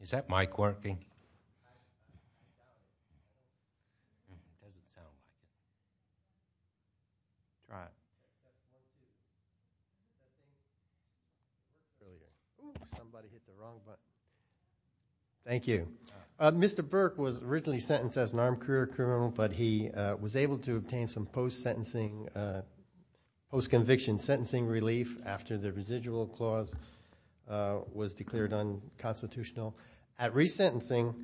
Is that mic working? Mr. Burke was originally sentenced as an armed career criminal, but he was able to obtain some post-conviction sentencing relief after the residual clause was declared unconstitutional. At resentencing,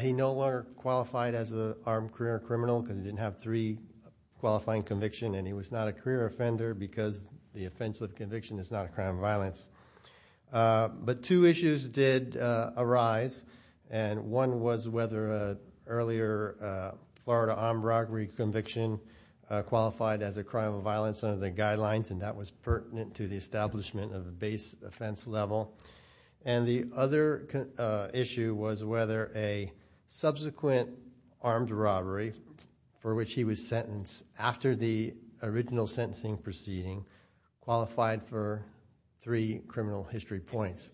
he no longer qualified as an armed career criminal because he didn't have three qualifying convictions, and he was not a career offender because the offense of conviction is not a crime of violence. But two issues did arise, and one was whether an earlier Florida armed robbery conviction qualified as a crime of violence under the guidelines, and that was pertinent to the establishment of a base offense level. And the other issue was whether a subsequent armed robbery, for which he was sentenced after the original sentencing proceeding, qualified for three criminal history points.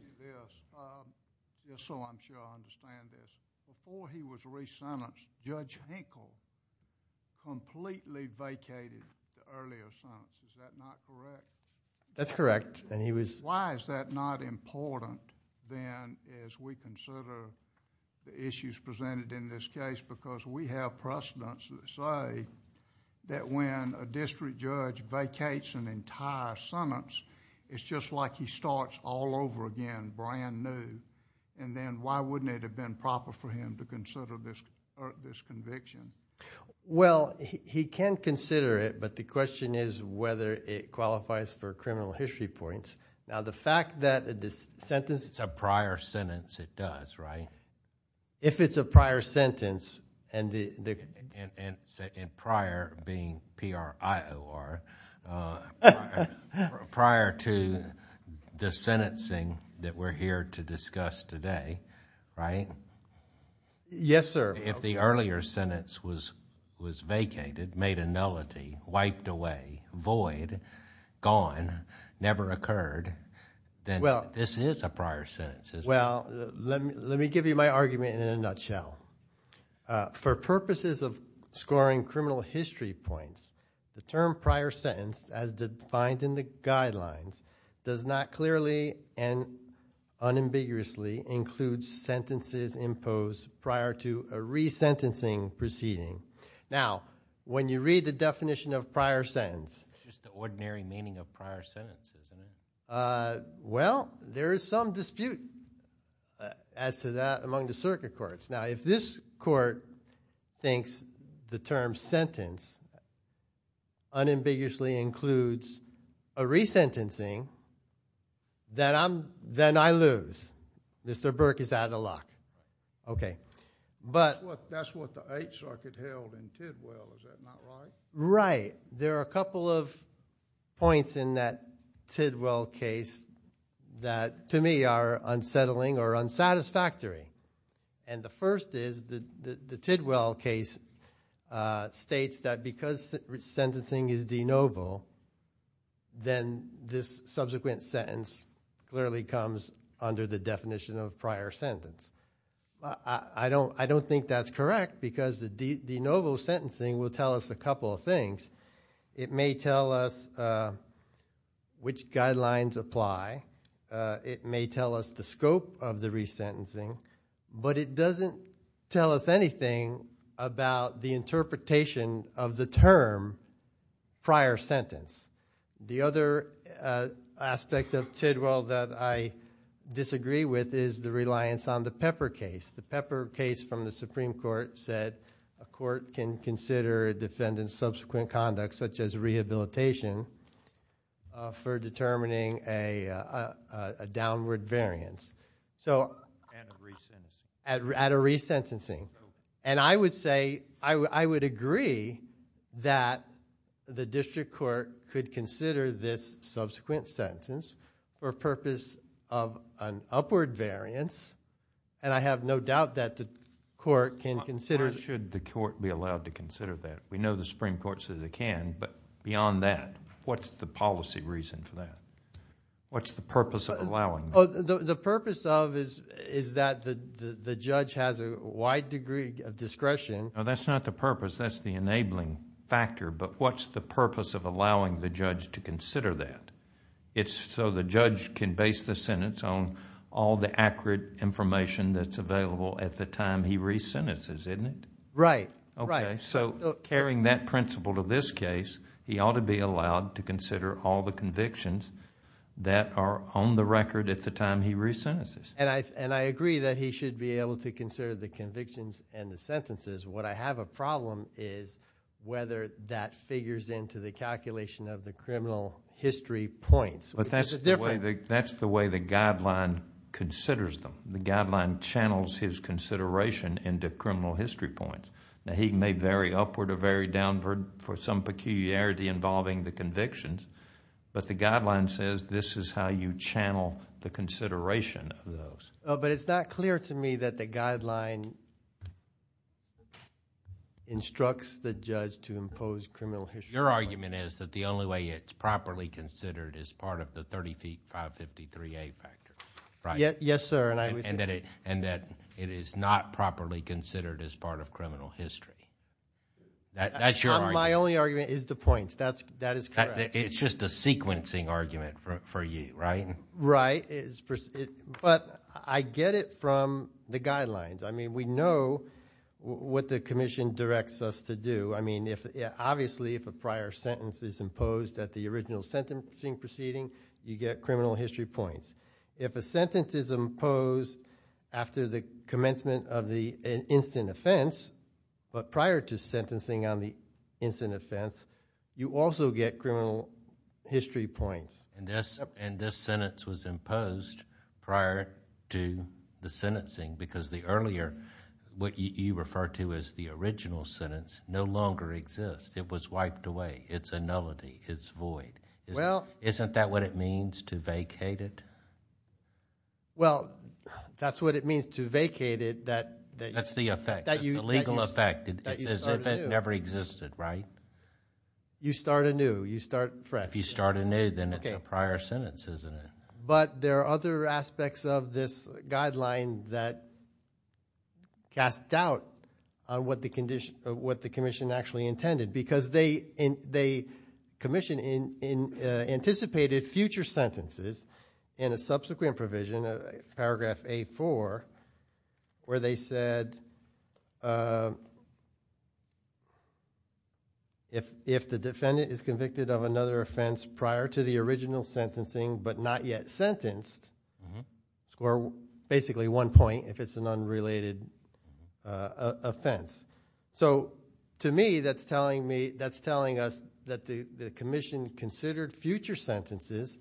Just so I'm sure I understand this, before he was resentenced, Judge Henkel completely vacated the earlier sentence, is that not correct? That's correct, and he was Why is that not important, then, as we consider the issues presented in this case? Because we have precedents that say that when a district judge vacates an entire sentence, it's just like he starts all over again, brand new, and then why wouldn't it have been proper for him to consider this conviction? Well, he can consider it, but the question is whether it qualifies for criminal history points. Now, the fact that this sentence It's a prior sentence, it does, right? If it's a prior sentence, and the Prior being P-R-I-O-R, prior to the sentencing that we're here to discuss today, right? Yes, sir. If the earlier sentence was vacated, made a nullity, wiped away, void, gone, never occurred, then this is a prior sentence, isn't it? Well, let me give you my argument in a nutshell. For purposes of scoring criminal history points, the term prior sentence, as defined in the re-sentencing proceeding, now, when you read the definition of prior sentence It's just the ordinary meaning of prior sentence, isn't it? Well, there is some dispute as to that among the circuit courts. Now, if this court thinks the term sentence unambiguously includes a re-sentencing, then I lose. Mr. Burke is out of the lock. Okay, but That's what the Eighth Circuit held in Tidwell, is that not right? Right. There are a couple of points in that Tidwell case that, to me, are unsettling or unsatisfactory. And the first is, the Tidwell case states that because sentencing is de novo, then this I don't think that's correct because the de novo sentencing will tell us a couple of things. It may tell us which guidelines apply. It may tell us the scope of the re-sentencing. But it doesn't tell us anything about the interpretation of the term prior sentence. The other aspect of Tidwell that I disagree with is the reliance on the Pepper case. The Pepper case from the Supreme Court said a court can consider a defendant's subsequent conduct such as rehabilitation for determining a downward variance. So And a re-sentencing. And a re-sentencing. And I would say, I would agree that the district court could consider this subsequent sentence for purpose of an upward variance. And I have no doubt that the court can consider Why should the court be allowed to consider that? We know the Supreme Court says it can. But beyond that, what's the policy reason for that? What's the purpose of allowing that? The purpose of is that the judge has a wide degree of discretion. That's not the purpose. That's the enabling factor. But what's the purpose of allowing the judge to consider that? It's so the judge can base the sentence on all the accurate information that's available at the time he re-sentences, isn't it? Right. So carrying that principle to this case, he ought to be allowed to consider all the convictions that are on the record at the time he re-sentences. And I agree that he should be able to consider the convictions and the sentences. What I have a problem is whether that figures into the calculation of the criminal history points. But that's the way the guideline considers them. The guideline channels his consideration into criminal history points. Now, he may vary upward or vary downward for some peculiarity involving the convictions. But the guideline says this is how you channel the consideration of those. But it's not clear to me that the guideline instructs the judge to impose criminal history. Your argument is that the only way it's properly considered is part of the 30 feet, 553A factor, right? Yes, sir. And that it is not properly considered as part of criminal history. That's your argument. My only argument is the points. That is correct. It's just a sequencing argument for you, right? Right. But I get it from the guidelines. I mean, we know what the commission directs us to do. I mean, obviously, if a prior sentence is imposed at the original sentencing proceeding, you get criminal history points. If a sentence is imposed after the commencement of the instant offense, but prior to sentencing on the instant offense, you also get criminal history points. And this sentence was imposed prior to the sentencing because the earlier, what you refer to as the original sentence, no longer exists. It was wiped away. It's a nullity. It's void. Isn't that what it means to vacate it? Well, that's what it means to vacate it. That's the effect. That's the legal effect. It's as if it never existed, right? You start anew. You start fresh. If you start anew, then it's a prior sentence, isn't it? But there are other aspects of this guideline that cast doubt on what the commission actually intended because they anticipated future sentences in a subsequent provision, paragraph A-4, where they said if the defendant is convicted of another offense prior to the original sentencing, but not yet sentenced, score basically one point if it's an unrelated offense. So to me, that's telling us that the commission considered future sentences,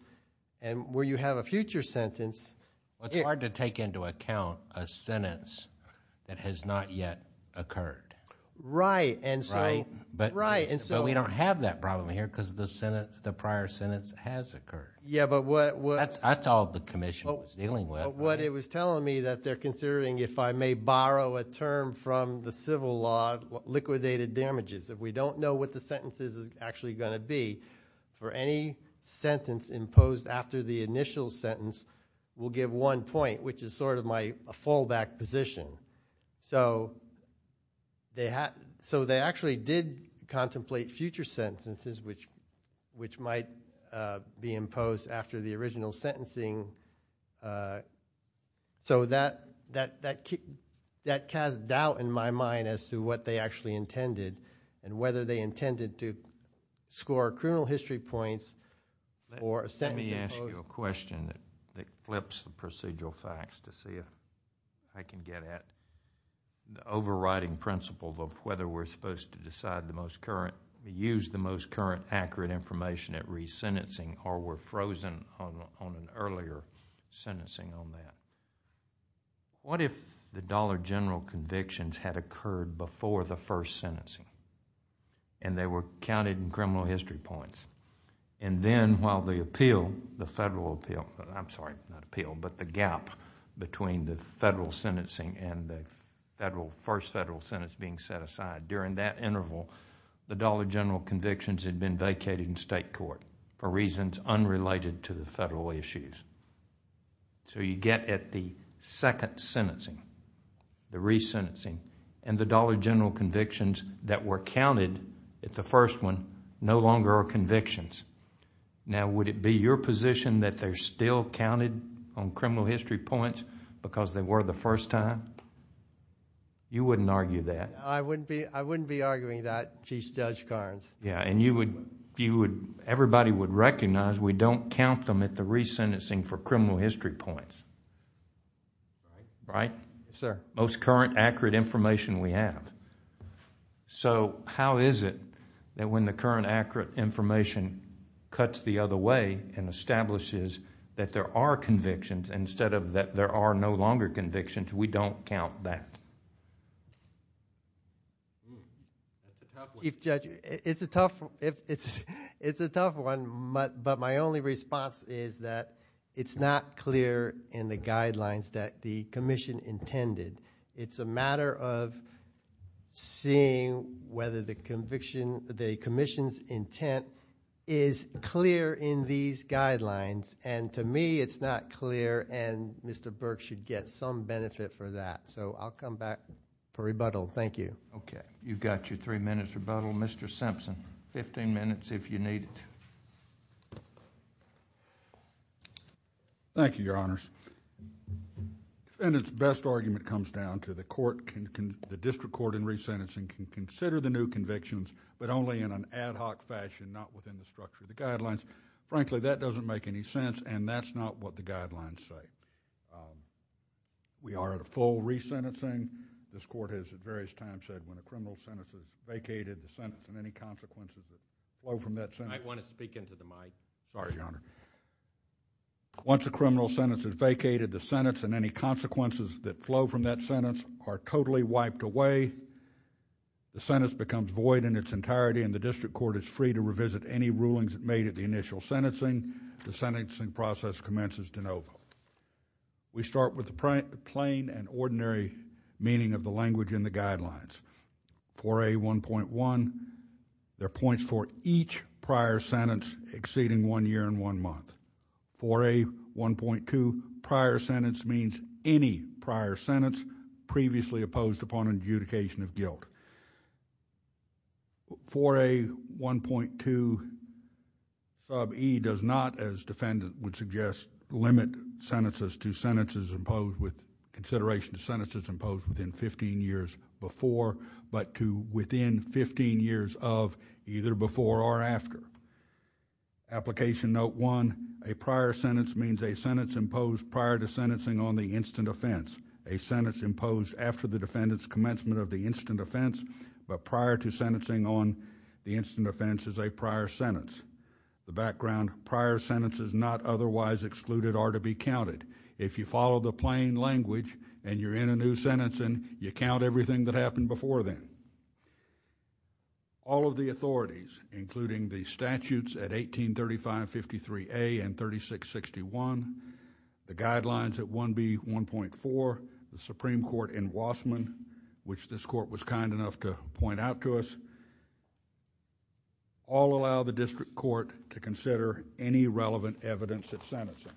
and where you a sentence that has not yet occurred. Right. Right. But we don't have that problem here because the prior sentence has occurred. Yeah, but what- That's all the commission was dealing with. What it was telling me that they're considering, if I may borrow a term from the civil law, liquidated damages. If we don't know what the sentence is actually going to be for any sentence imposed after the initial sentence, we'll give one point, which is sort of my fallback position. So they actually did contemplate future sentences, which might be imposed after the original sentencing. So that cast doubt in my mind as to what they actually intended, and whether they intended to score criminal history points or a sentence imposed. Let me ask you a question that flips the procedural facts to see if I can get at the overriding principle of whether we're supposed to use the most current accurate information at resentencing or we're frozen on an earlier sentencing on that. What if the dollar general convictions had occurred before the first sentencing, and they were counted in criminal history points? And then while the appeal, the federal appeal, I'm sorry, not appeal, but the gap between the federal sentencing and the first federal sentence being set aside, during that interval, the dollar general convictions had been vacated in state court for reasons unrelated to the federal issues. So you get at the second sentencing, the resentencing, and the dollar general convictions that were counted at the first one no longer are convictions. Now would it be your position that they're still counted on criminal history points because they were the first time? You wouldn't argue that. I wouldn't be arguing that, Chief Judge Carnes. Yeah, and you would, everybody would recognize we don't count them at the resentencing for criminal history points, right? Most current accurate information we have. So how is it that when the current accurate information cuts the other way and establishes that there are convictions instead of that there are no longer convictions, we don't count that? That's a tough one. Chief Judge, it's a tough one, but my only response is that it's not clear in the guidelines that the commission intended. It's a matter of seeing whether the commission's intent is clear in these guidelines. And to me, it's not clear and Mr. Burke should get some benefit for that. So I'll come back for rebuttal. Thank you. Okay. You've got your three minutes rebuttal. Mr. Simpson, fifteen minutes if you need it. Thank you, Your Honors. Defendant's best argument comes down to the district court in resentencing can consider the new convictions, but only in an ad hoc fashion, not within the structure of the guidelines. Frankly, that doesn't make any sense and that's not what the guidelines say. We are at a full resentencing. This court has at various times said when a criminal sentence is vacated, the sentence and any consequences that flow from that sentence... I want to speak into the mic. Sorry, Your Honor. Once a criminal sentence is vacated, the sentence and any consequences that flow from that sentence are totally wiped away. The sentence becomes void in its entirety and the district court is free to revisit any rulings made at the initial sentencing. The sentencing process commences de novo. We start with the plain and ordinary meaning of the language in the guidelines. 4A1.1, there are points for each prior sentence exceeding one year and one month. 4A1.2, prior sentence means any prior sentence previously opposed upon adjudication of guilt. 4A1.2 sub e does not, as defendant would suggest, limit sentences to sentences imposed with consideration to sentences imposed within 15 years before but to within 15 years of either before or after. Application note one, a prior sentence means a sentence imposed prior to sentencing on the instant offense. A sentence imposed after the defendant's commencement of the instant offense but prior to sentencing on the instant offense is a prior sentence. The background, prior sentences not otherwise excluded are to be counted. If you follow the plain language and you're in a new sentencing, you count everything that happened before then. All of the authorities, including the statutes at 183553A and 3661, the guidelines at 1B1.4, the Supreme Court in Wasserman, which this court was kind enough to point out to us, all allow the district court to consider any relevant evidence of sentencing.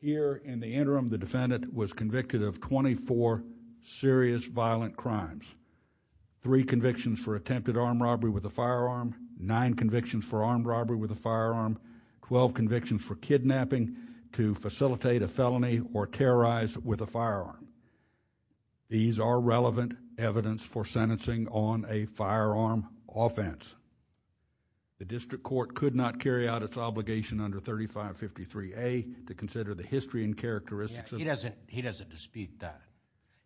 Here in the interim, the defendant was convicted of 24 serious violent crimes, three convictions for attempted armed robbery with a firearm, nine convictions for armed robbery with a firearm. These are relevant evidence for sentencing on a firearm offense. The district court could not carry out its obligation under 3553A to consider the history and characteristics of... He doesn't dispute that.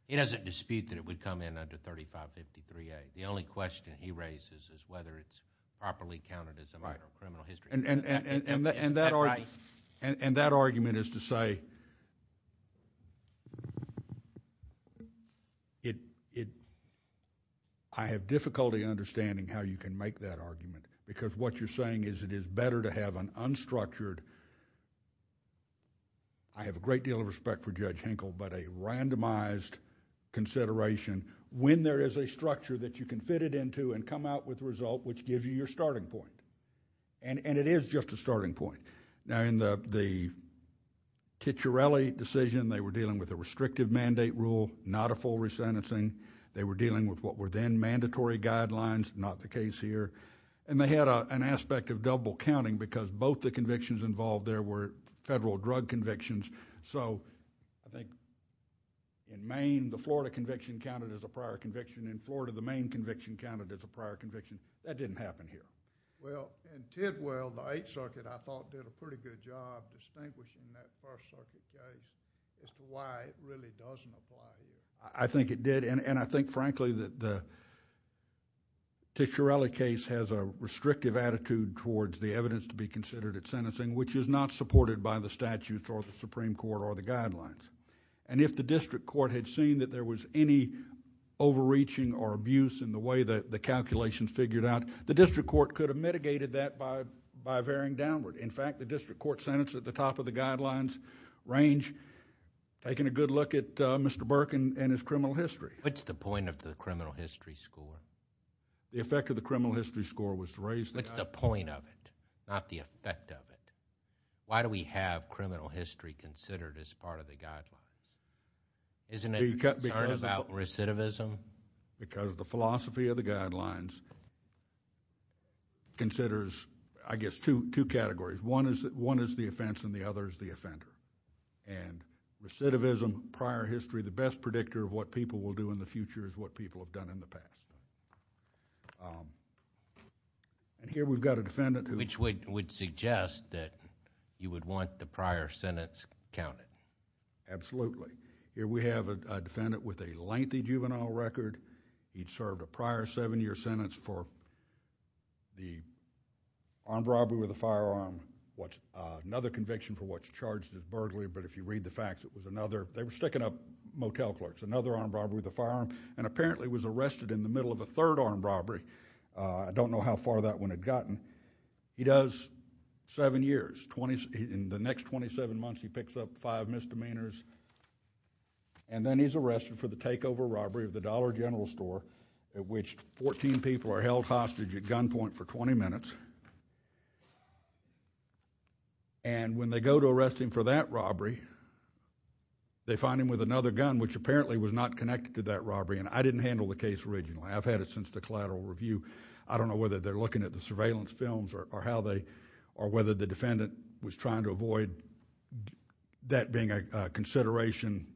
He doesn't dispute that it would come in under 3553A. The only question he raises is whether it's properly counted as a minor criminal history. That argument is to say, I have difficulty understanding how you can make that argument because what you're saying is it is better to have an unstructured... I have a great deal of respect for Judge Hinkle, but a randomized consideration when there is a structure that you can fit it into and come out with a result which gives you your starting point. And it is just a starting point. Now in the Cicciarelli decision, they were dealing with a restrictive mandate rule, not a full resentencing. They were dealing with what were then mandatory guidelines, not the case here. And they had an aspect of double counting because both the convictions involved there were federal drug convictions. So I think in Maine, the Florida conviction counted as a prior conviction. In Florida, the Maine conviction counted as a prior conviction. That didn't happen here. Well, in Tidwell, the Eighth Circuit, I thought, did a pretty good job distinguishing that First Circuit case as to why it really doesn't apply here. I think it did, and I think frankly that the Cicciarelli case has a restrictive attitude towards the evidence to be considered at sentencing, which is not supported by the statutes or the Supreme Court or the guidelines. And if the district court had seen that there was any overreaching or abuse in the way that the calculations figured out, the district court could have mitigated that by veering downward. In fact, the district court sentenced at the top of the guidelines range, taking a good look at Mr. Burke and his criminal history. What's the point of the criminal history score? The effect of the criminal history score was to raise the... What's the point of it, not the effect of it? Why do we have criminal history considered as part of the guidelines? Isn't it concerned about recidivism? Because the philosophy of the guidelines considers, I guess, two categories. One is the offense and the other is the offender. And recidivism, prior history, the best predictor of what people will do in the future is what people have done in the past. Here we've got a defendant who... Which would suggest that you would want the prior sentence counted. Absolutely. Here we have a defendant with a lengthy juvenile record. He'd served a prior seven-year sentence for the armed robbery with a firearm. Another conviction for what's charged as burglary, but if you read the facts, it was another. They were sticking up motel clerks. Another armed robbery with a firearm and apparently was arrested in the middle of a third armed robbery. I don't know how far that one had gotten. He does seven years. In the next 27 months, he picks up five misdemeanors. And then he's arrested for the takeover robbery of the Dollar General Store, at which 14 people are held hostage at gunpoint for 20 minutes. And when they go to arrest him for that robbery, they find him with another gun, which apparently was not connected to that robbery. And I didn't handle the case originally. I've had it since the collateral review. I don't know whether they're looking at the surveillance films or how they... or whether the defendant was trying to avoid that being a consideration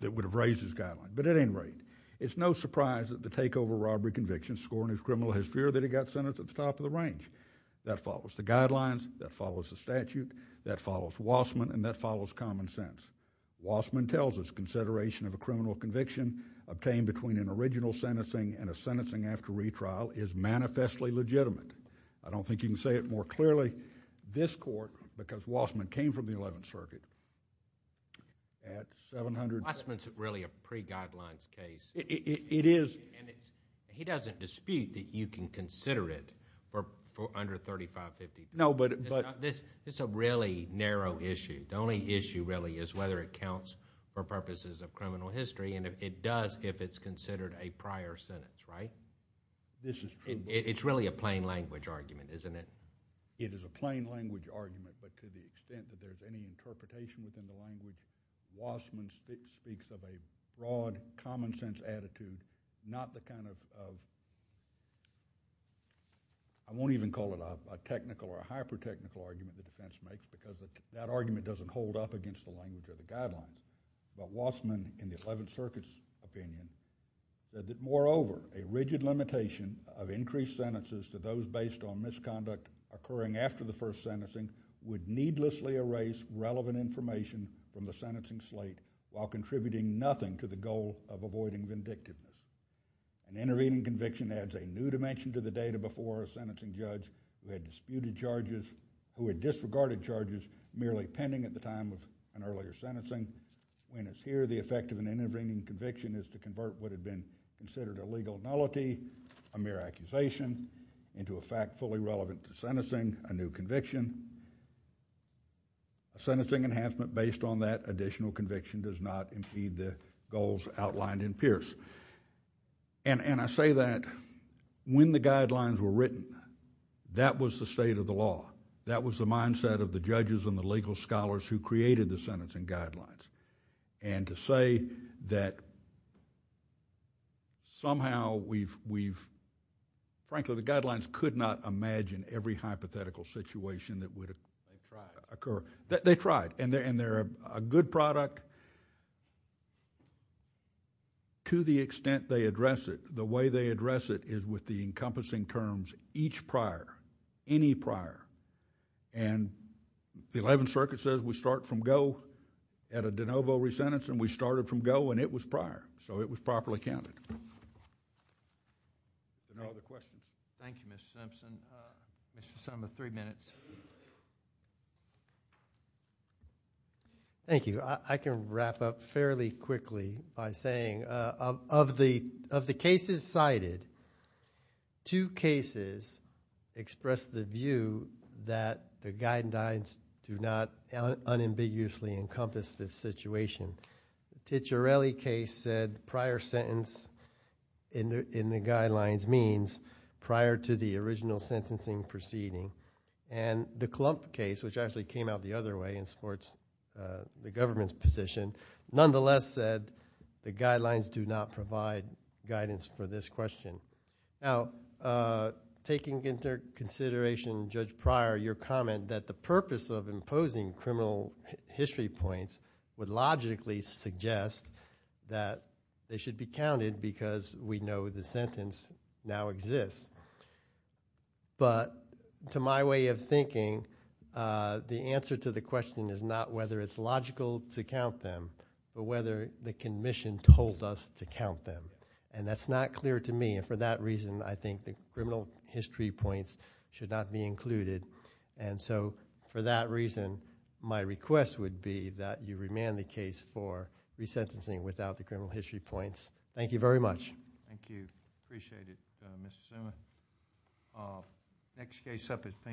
that would have raised his guideline. But at any rate, it's no surprise that the takeover robbery conviction scoring his criminal has fear that he got sentenced at the top of the range. That follows the guidelines. That follows the statute. That follows Wassman. And that follows common sense. Wassman tells us consideration of a criminal conviction obtained between an original sentencing and a sentencing after retrial is manifestly legitimate. I don't think you can say it more clearly. This court, because Wassman came from the Eleventh Circuit, at 700... Wassman's really a pre-guidelines case. It is. And he doesn't dispute that you can consider it for under 35, 50... No, but... It's a really narrow issue. The only issue really is whether it counts for purposes of criminal history, and it does if it's considered a prior sentence, right? This is true. It's really a plain language argument, isn't it? It is a plain language argument, but to the extent that there's any interpretation within the language, Wassman speaks of a broad, common sense attitude, not the kind of... I won't even call it a technical or a hyper-technical argument that the defense makes, because that argument doesn't hold up against the language of the guidelines. But Wassman, in the Eleventh Circuit's opinion, said that moreover, a rigid limitation of increased sentences to those based on misconduct occurring after the first sentencing would needlessly erase relevant information from the sentencing slate while contributing nothing to the goal of avoiding vindictiveness. An intervening conviction adds a new dimension to the data before a sentencing judge who had disputed charges, who had disregarded charges merely pending at the time of an earlier sentencing. When it's here, the effect of an intervening conviction is to convert what had been considered a legal nullity, a mere accusation, into a fact fully relevant to sentencing, a new conviction. A sentencing enhancement based on that additional conviction does not impede the goals outlined in Pierce. And I say that when the guidelines were written, that was the state of the law. That was the mindset of the judges and the legal scholars who created the sentencing guidelines. And to say that somehow we've, frankly, the guidelines could not imagine every hypothetical situation that would occur. They tried. And they're a good product to the extent they address it. The way they address it is with the encompassing terms, each prior, any prior. And the 11th Circuit says we start from go at a de novo resentence, and we started from go, and it was prior. So it was properly counted. Are there other questions? Thank you, Mr. Simpson. Mr. Sumner, three minutes. I can wrap up fairly quickly by saying of the cases that have been brought forward, the cases cited, two cases expressed the view that the guidelines do not unambiguously encompass this situation. The Ticciarelli case said prior sentence in the guidelines means prior to the original sentencing proceeding. And the Klump case, which actually came out the other way and supports the government's position, nonetheless said the guidelines do not provide guidance for this question. Now, taking into consideration Judge Pryor, your comment that the purpose of imposing criminal history points would logically suggest that they should be counted because we know the sentence now exists. But to my way of thinking, the answer to the question is not whether it's logical to count them, but whether the commission told us to count them. And that's not clear to me. And for that reason, I think the criminal history points should not be included. And so for that reason, my request would be that you remand the case for resentencing without the criminal history points. Thank you very much. Thank you. Appreciate it, Mr. Zuma. Next case up is